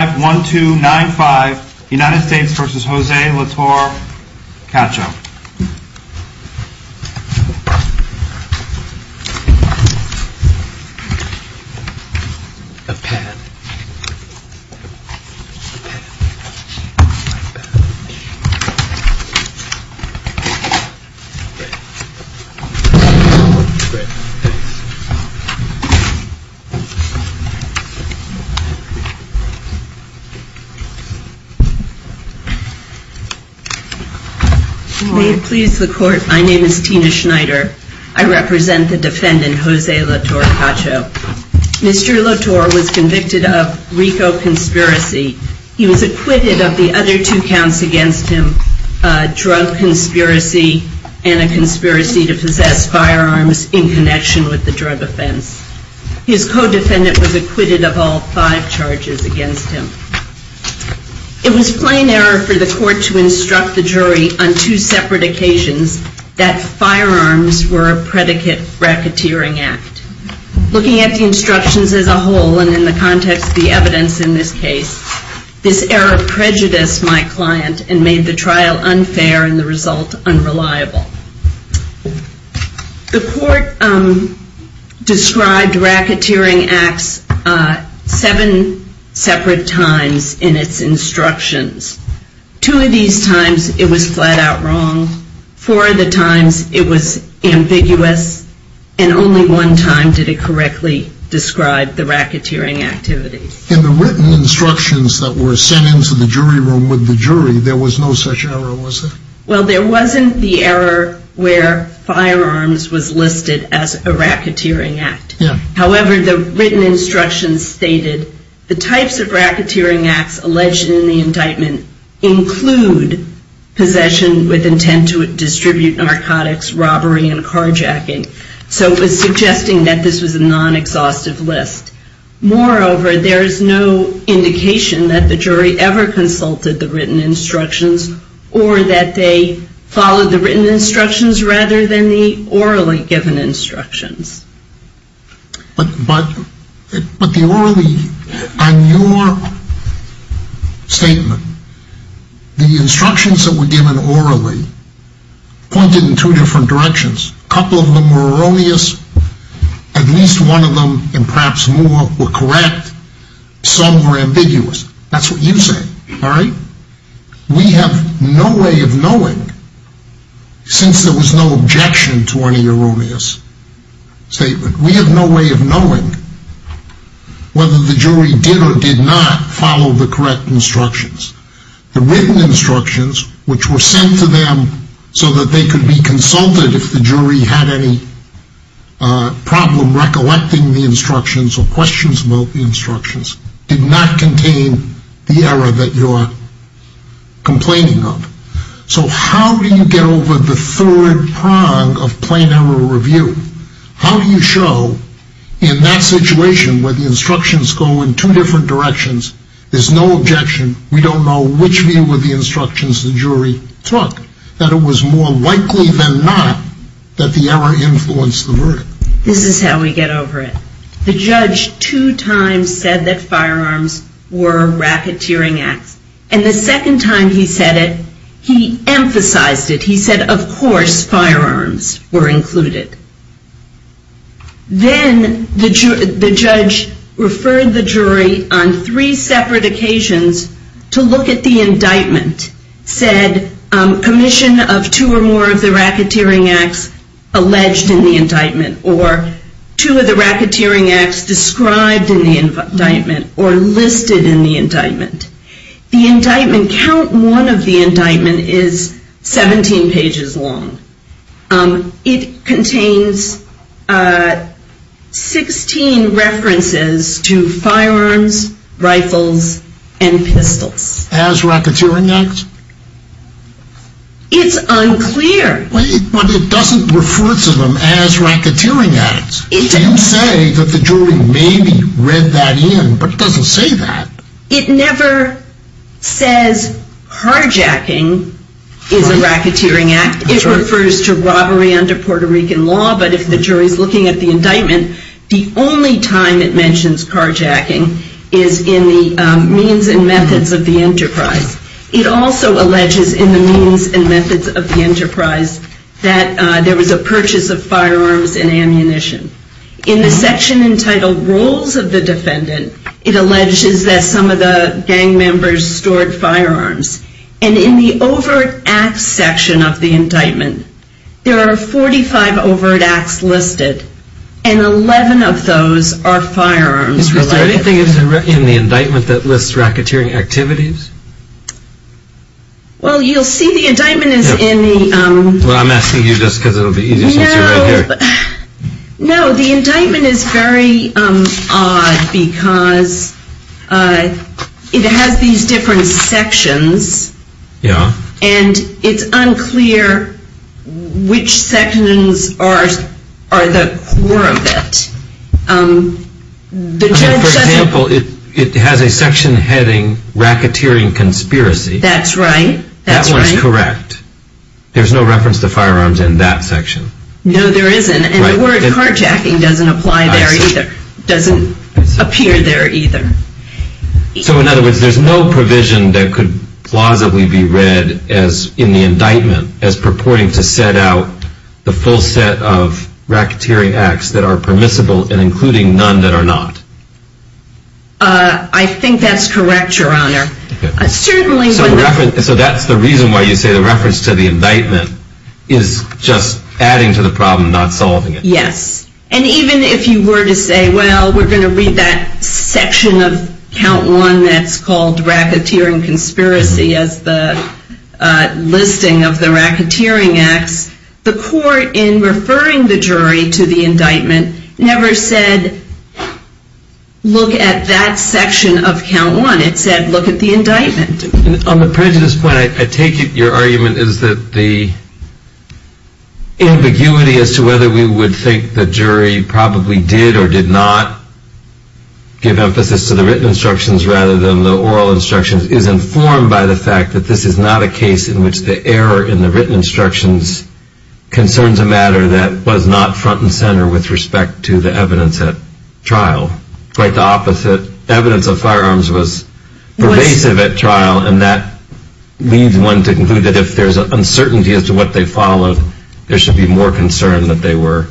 5-1-2-9-5 United States v. Jose Latorre-Cacho May it please the Court, my name is Tina Schneider. I represent the defendant, Jose Latorre-Cacho. Mr. Latorre was convicted of RICO conspiracy. He was acquitted of the other two counts against him, a drug conspiracy and a conspiracy to possess firearms in connection with the drug offense. His co-defendant was acquitted of all five charges against him. It was plain error for the Court to instruct the jury on two separate occasions that firearms were a predicate racketeering act. Looking at the instructions as a whole and in the context of the evidence in this case, this error prejudiced my client and made the trial describe racketeering acts seven separate times in its instructions. Two of these times it was flat out wrong, four of the times it was ambiguous, and only one time did it correctly describe the racketeering activity. In the written instructions that were sent into the jury room with the jury, there was no such error, was there? Well, there wasn't the error where firearms was listed as a racketeering act. However, the written instructions stated the types of racketeering acts alleged in the indictment include possession with intent to distribute narcotics, robbery, and carjacking. So it was suggesting that this was a non-exhaustive list. Moreover, there is no indication that the jury ever consulted the written instructions or that they followed the written instructions rather than the orally given instructions. But the orally, on your statement, the instructions that were given orally pointed in two different directions. A couple of them were erroneous, at least one of them and perhaps more were correct, some were ambiguous. That's what you say, alright? We have no way of knowing, since there was no objection to any erroneous statement, we have no way of knowing whether the jury did or did not follow the correct instructions. The written instructions, which were sent to them so that they could be consulted if the jury had any problem recollecting the instructions, did not contain the error that you're complaining of. So how do you get over the third prong of plain error review? How do you show in that situation where the instructions go in two different directions, there's no objection, we don't know which view of the instructions the jury took, that it was more likely than not that the error influenced the verdict? This is how we get over it. The judge two times said that firearms were racketeering acts and the second time he said it, he emphasized it. He said, of course, firearms were included. Then the judge referred the jury on three separate occasions to look at the indictment, said commission of two or more of the racketeering acts alleged in the indictment, or two of the racketeering acts described in the indictment, or listed in the indictment. The indictment, count one of the indictment is 17 pages long. It contains 16 references to firearms, rifles and pistols. As racketeering acts? It's unclear. But it doesn't refer to them as racketeering acts. You say that the jury maybe read that in, but it doesn't say that. It never says carjacking is a racketeering act. It refers to robbery under Puerto Rican law, but if the jury's looking at the indictment, the only time it mentions carjacking is in the means and methods of the enterprise. It also alleges in the means and methods of the enterprise that there was a purchase of firearms and ammunition. In the section entitled roles of the defendant, it alleges that some of the gang members stored firearms. And in the overt acts section of the indictment, there are 45 overt acts listed, and 11 of those are firearms related. Is there anything in the indictment that lists racketeering activities? Well you'll see the indictment is in the... Well I'm asking you just because it'll be easier since you're right here. No, the indictment is very odd because it has these different sections, and it's unclear which sections are the core of it. For example, it has a section heading racketeering conspiracy. That's right. That one's correct. There's no reference to firearms in that section. No, there isn't, and the word carjacking doesn't apply there either, doesn't appear there either. So in other words, there's no provision that could plausibly be read in the indictment as purporting to set out the full set of racketeering acts that are permissible, and including none that are not. I think that's correct, Your Honor. So that's the reason why you say the reference to the indictment is just adding to the problem, not solving it. Yes, and even if you were to say, well, we're going to read that section of count one that's called racketeering conspiracy as the listing of the racketeering acts, the court in referring the jury to the indictment never said, look at that section of count one, it said look at the indictment. On the prejudice point, I take it your argument is that the ambiguity as to whether we would think the jury probably did or did not give emphasis to the written instructions rather than the oral instructions is informed by the fact that this is not a case in which the error in the written instructions concerns a matter that was not front and center with respect to the evidence at trial. Quite the opposite, evidence of firearms was pervasive at trial, and that leads one to conclude that if there's uncertainty as to what they followed, there should be more concern that they were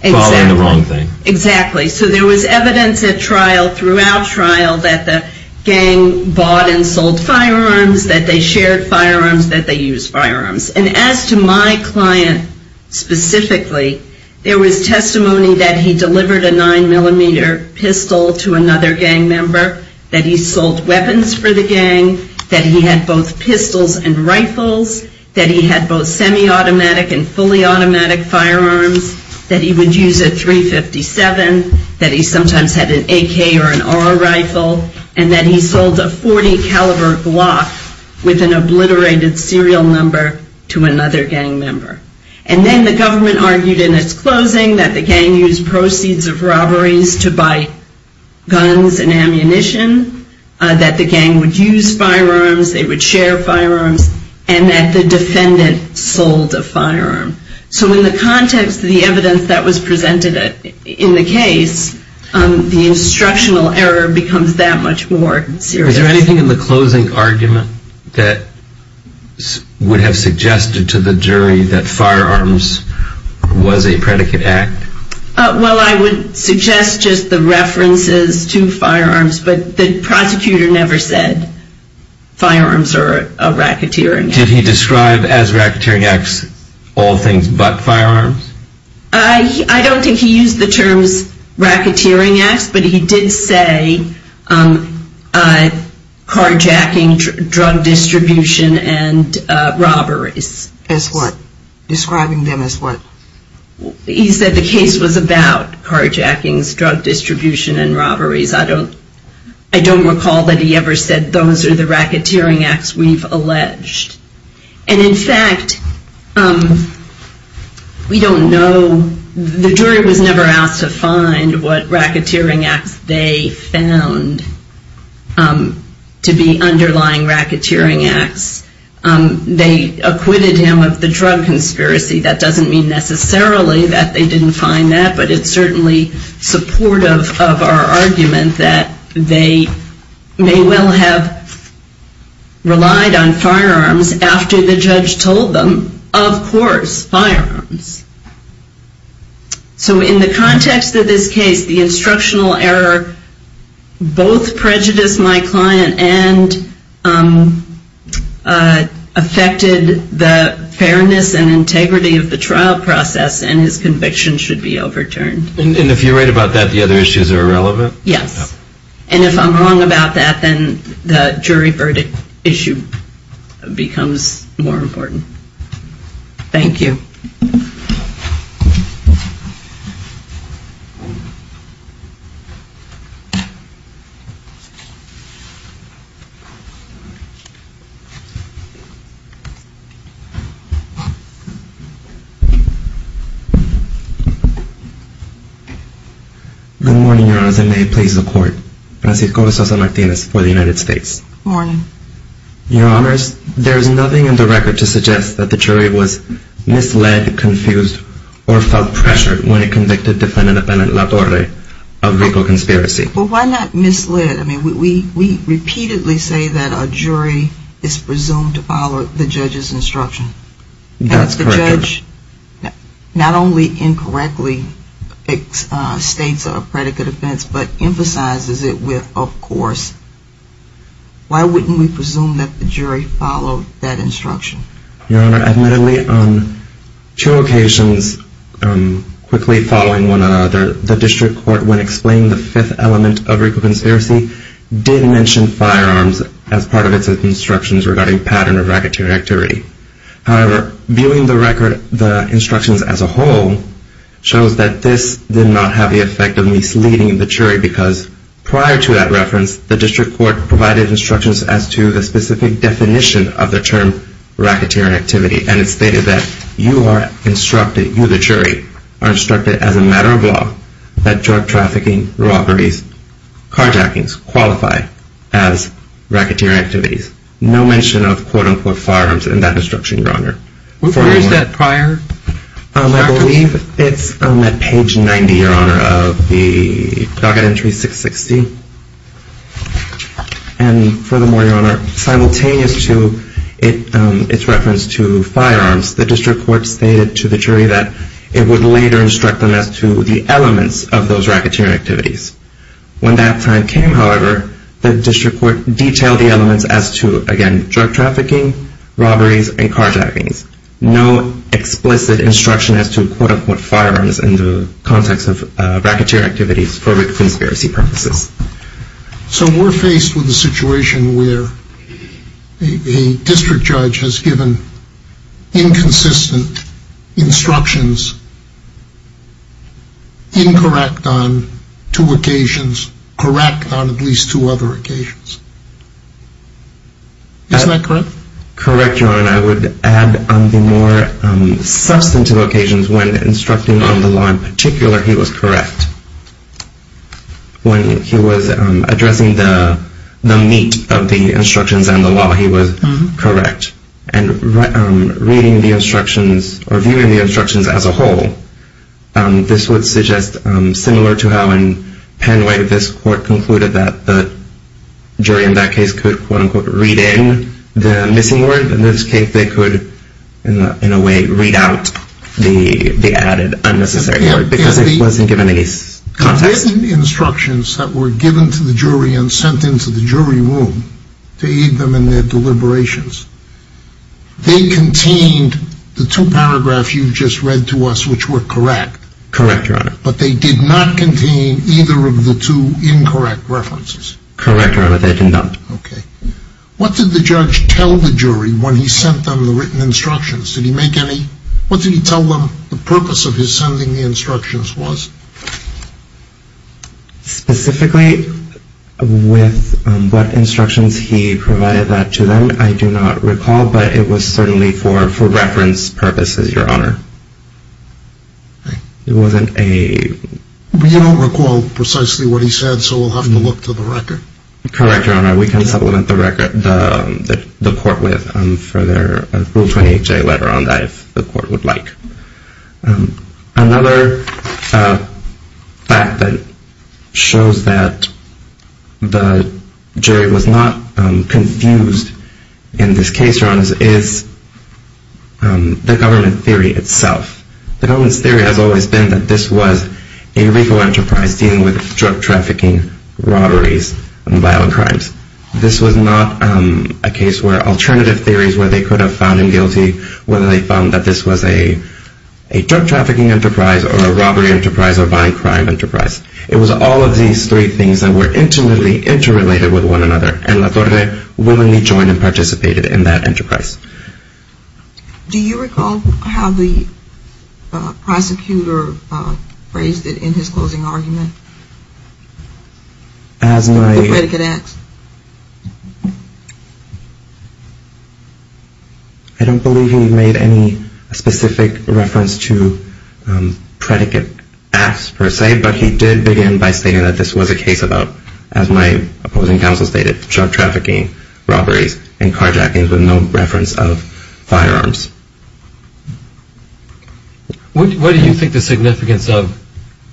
following the wrong thing. Exactly. So there was evidence at trial, throughout trial, that the gang bought and sold firearms, that they shared firearms, that they used firearms. And as to my client specifically, there was testimony that he delivered a nine millimeter pistol to another gang member, that he sold weapons for the gang, that he had both pistols and rifles, that he had both semi-automatic and fully automatic firearms, that he would use a .357, that he sometimes had an AK or an R rifle, and that he sold a .40 caliber Glock with an obliterated serial number to another gang member. And then the government argued in its closing that the gang used proceeds of robberies to ammunition, that the gang would use firearms, they would share firearms, and that the defendant sold a firearm. So in the context of the evidence that was presented in the case, the instructional error becomes that much more serious. Is there anything in the closing argument that would have suggested to the jury that firearms was a predicate act? Well, I would suggest just the references to firearms, but the prosecutor never said firearms are a racketeering act. Did he describe as racketeering acts all things but firearms? I don't think he used the terms racketeering acts, but he did say carjacking, drug distribution, and robberies. As what? Describing them as what? He said the case was about carjackings, drug distribution, and robberies. I don't recall that he ever said those are the racketeering acts we've alleged. And in fact, we don't know, the jury was never asked to find what racketeering acts they found to be underlying racketeering acts. They acquitted him of the drug conspiracy. That doesn't mean necessarily that they didn't find that, but it's certainly supportive of our argument that they may well have relied on firearms after the judge told them, of course, firearms. So in the context of this case, the instructional error both prejudiced my client and affected the fairness and integrity of the trial process, and his conviction should be overturned. And if you're right about that, the other issues are irrelevant? Yes. And if I'm wrong about that, then the jury verdict issue becomes more important. Thank you. Good morning, Your Honors, and may it please the court, Francisco Sosa-Martinez for the United States. Good morning. Your Honors, there is nothing in the record to suggest that the jury was misled, confused, or felt pressured when it convicted Defendant Appellant LaTorre of legal conspiracy. Well, why not misled? I mean, we repeatedly say that a jury is presumed to follow the judge's instruction. That's correct. And if the judge not only incorrectly states a predicate offense, but emphasizes it with of course, why wouldn't we presume that the jury followed that instruction? Your Honor, admittedly, on two occasions, quickly following one another, the district court when explaining the fifth element of legal conspiracy, did mention firearms as part of its instructions regarding pattern of racketeering activity. However, viewing the instructions as a whole, shows that this did not have the effect of misleading the jury because prior to that reference, the district court provided instructions as to the specific definition of the term racketeering activity. And it stated that you are instructed, you the jury, are instructed as a matter of law that drug trafficking, robberies, carjackings qualify as racketeering activities. No mention of quote unquote firearms in that instruction, Your Honor. Where is that prior? I believe it's on that page 90, Your Honor, of the docket entry 660. And furthermore, Your Honor, simultaneous to its reference to firearms, the district court stated to the jury that it would later instruct them as to the elements of those racketeering activities. When that time came, however, the district court detailed the elements as to, again, drug trafficking, robberies, and carjackings. No explicit instruction as to quote unquote firearms in the context of racketeering activities for conspiracy purposes. So we're faced with a situation where a district judge has given inconsistent instructions incorrect on two occasions, correct on at least two other occasions, isn't that correct? Correct, Your Honor. I would add on the more substantive occasions when instructing on the law in particular, he was correct. When he was addressing the meat of the instructions and the law, he was correct. And reading the instructions, or viewing the instructions as a whole, this would suggest similar to how in Penway this court concluded that the jury in that case could quote unquote read in the missing word, in this case they could, in a way, read out the added unnecessary word because it wasn't given any context. The written instructions that were given to the jury and sent into the jury room to aid them in their deliberations, they contained the two paragraphs you just read to us which were correct. Correct, Your Honor. But they did not contain either of the two incorrect references. Correct, Your Honor, they did not. Okay. What did the judge tell the jury when he sent them the written instructions? Did he make any, what did he tell them the purpose of his sending the instructions was? Specifically with what instructions he provided that to them, I do not recall, but it was certainly for reference purposes, Your Honor. Okay. It wasn't a... But you don't recall precisely what he said, so we'll have to look to the record. Correct, Your Honor. We can supplement the record, the court with a Rule 28J letter on that if the court would like. Another fact that shows that the jury was not confused in this case, Your Honor, is the government theory itself. The government's theory has always been that this was a legal enterprise dealing with drug This was not a case where alternative theories where they could have found him guilty, whether they found that this was a drug trafficking enterprise or a robbery enterprise or a violent crime enterprise. It was all of these three things that were intimately interrelated with one another, and La Torre willingly joined and participated in that enterprise. Do you recall how the prosecutor phrased it in his closing argument? As my... The predicate acts. I don't believe he made any specific reference to predicate acts per se, but he did begin by stating that this was a case about, as my opposing counsel stated, drug trafficking, robberies and carjackings with no reference of firearms. What do you think the significance of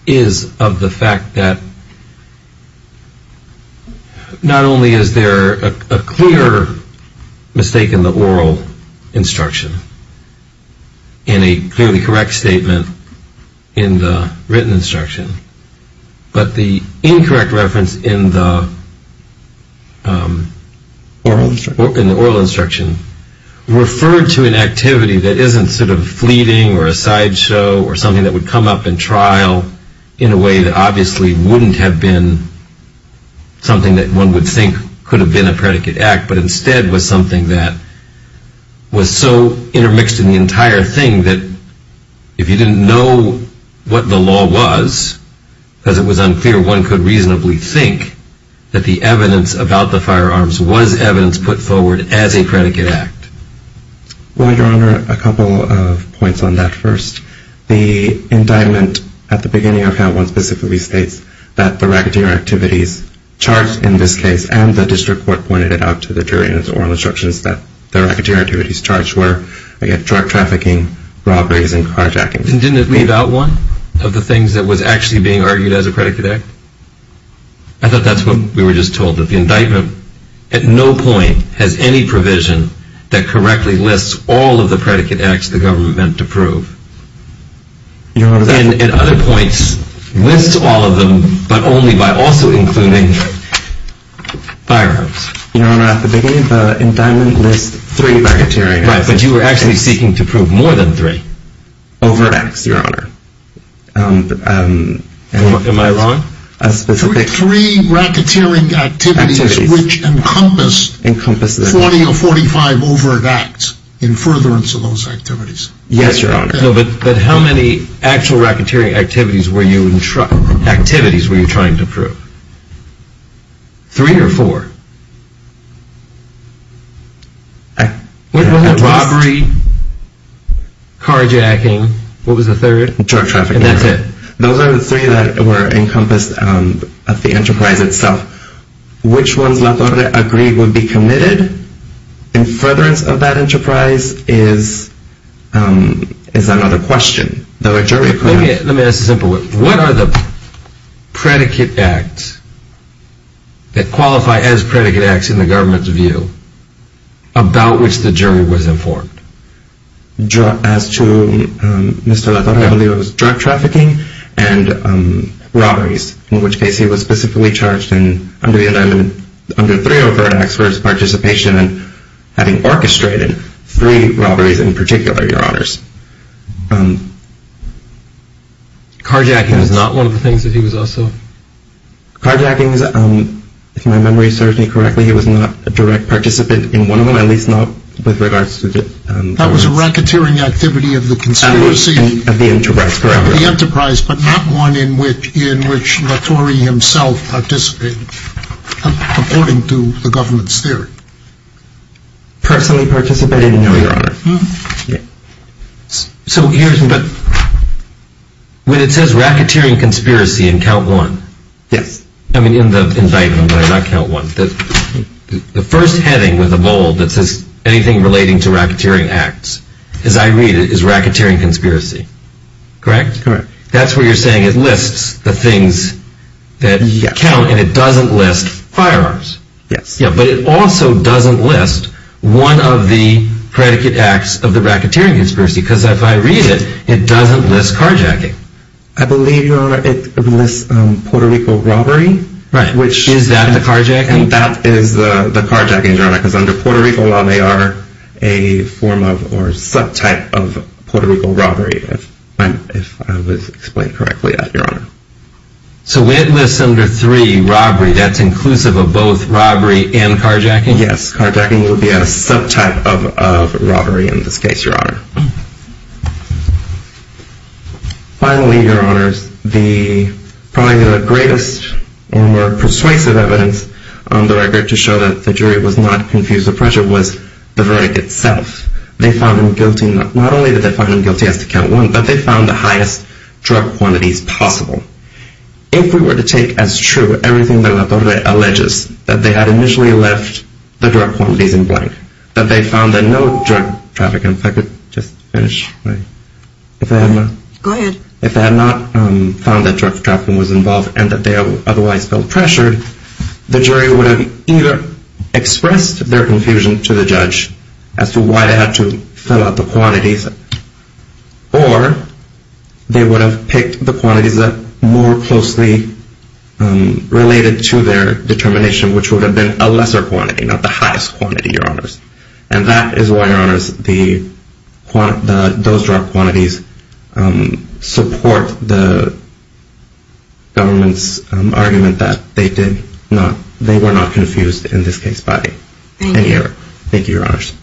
is of the fact that not only is there a clear mistake in the oral instruction in a clearly correct statement in the written instruction, but the incorrect reference in the oral instruction referred to an activity that isn't sort of fleeting or a sideshow or something that would come up in trial in a way that obviously wouldn't have been something that one would think could have been a predicate act, but instead was something that was so intermixed in the entire thing that if you didn't know what the law was, because it was unclear, one could reasonably think that the evidence about the firearms was evidence put forward as a predicate act. Well, Your Honor, a couple of points on that first. The indictment at the beginning of how one specifically states that the racketeer activities charged in this case, and the district court pointed it out to the jury in its oral instructions that the racketeer activities charged were, again, drug trafficking, robberies and carjackings. And didn't it leave out one of the things that was actually being argued as a predicate act? I thought that's what we were just told, that the indictment at no point has any provision that correctly lists all of the predicate acts the government meant to prove. And at other points, lists all of them, but only by also including firearms. Your Honor, at the beginning of the indictment, lists three racketeering acts. Right, but you were actually seeking to prove more than three. Overacts, Your Honor. Am I wrong? Three racketeering activities which encompassed 40 or 45 overacts in furtherance of those activities. Yes, Your Honor. But how many actual racketeering activities were you trying to prove? Three or four? What was it? Robbery, carjacking, what was the third? Drug trafficking. And that's it. Those are the three that were encompassed of the enterprise itself. Which ones La Torre agreed would be committed in furtherance of that enterprise is another question. Let me ask a simple one. What are the predicate acts that qualify as predicate acts in the government's view about which the jury was informed? As to Mr. La Torre, I believe it was drug trafficking and robberies, in which case he was specifically charged under three overt acts for his participation in having orchestrated three robberies in particular, Your Honors. Carjacking was not one of the things that he was also... Carjacking, if my memory serves me correctly, he was not a direct participant in one of them, at least not with regards to the... That was a racketeering activity of the conspiracy... Of the enterprise, correct. Of the enterprise, but not one in which La Torre himself participated, according to the government's theory. Personally participated in, Your Honor. So here's the... When it says racketeering conspiracy in count one... Yes. I mean in the indictment, not count one, the first heading with a bold that says anything relating to racketeering acts, as I read it, is racketeering conspiracy. Correct? Correct. That's where you're saying it lists the things that count and it doesn't list firearms. Yes. But it also doesn't list one of the predicate acts of the racketeering conspiracy, because if I read it, it doesn't list carjacking. I believe, Your Honor, it lists Puerto Rico robbery, which... Is that the carjacking? That is the carjacking, Your Honor, because under Puerto Rico law, they are a form of or subtype of Puerto Rico robbery, if I was explained correctly, Your Honor. So when it lists under three, robbery, that's inclusive of both robbery and carjacking? Yes. Carjacking would be a subtype of robbery in this case, Your Honor. Finally, Your Honors, the probably the greatest and more persuasive evidence on the record to show that the jury was not confused with pressure was the verdict itself. They found him guilty, not only did they find him guilty as to count one, but they found the highest drug quantities possible. If we were to take as true everything that La Torre alleges, that they had initially left the drug quantities in blank, that they found that no drug trafficking... If I could just finish my... Go ahead. If they had not found that drug trafficking was involved and that they otherwise felt pressured, the jury would have either expressed their confusion to the judge as to why they had to fill out the quantities, or they would have picked the quantities that more closely related to their determination, which would have been a lesser quantity, not the highest quantity, Your Honors. And that is why, Your Honors, those drug quantities support the government's argument that they did not... They were not confused in this case by any error. Thank you, Your Honors.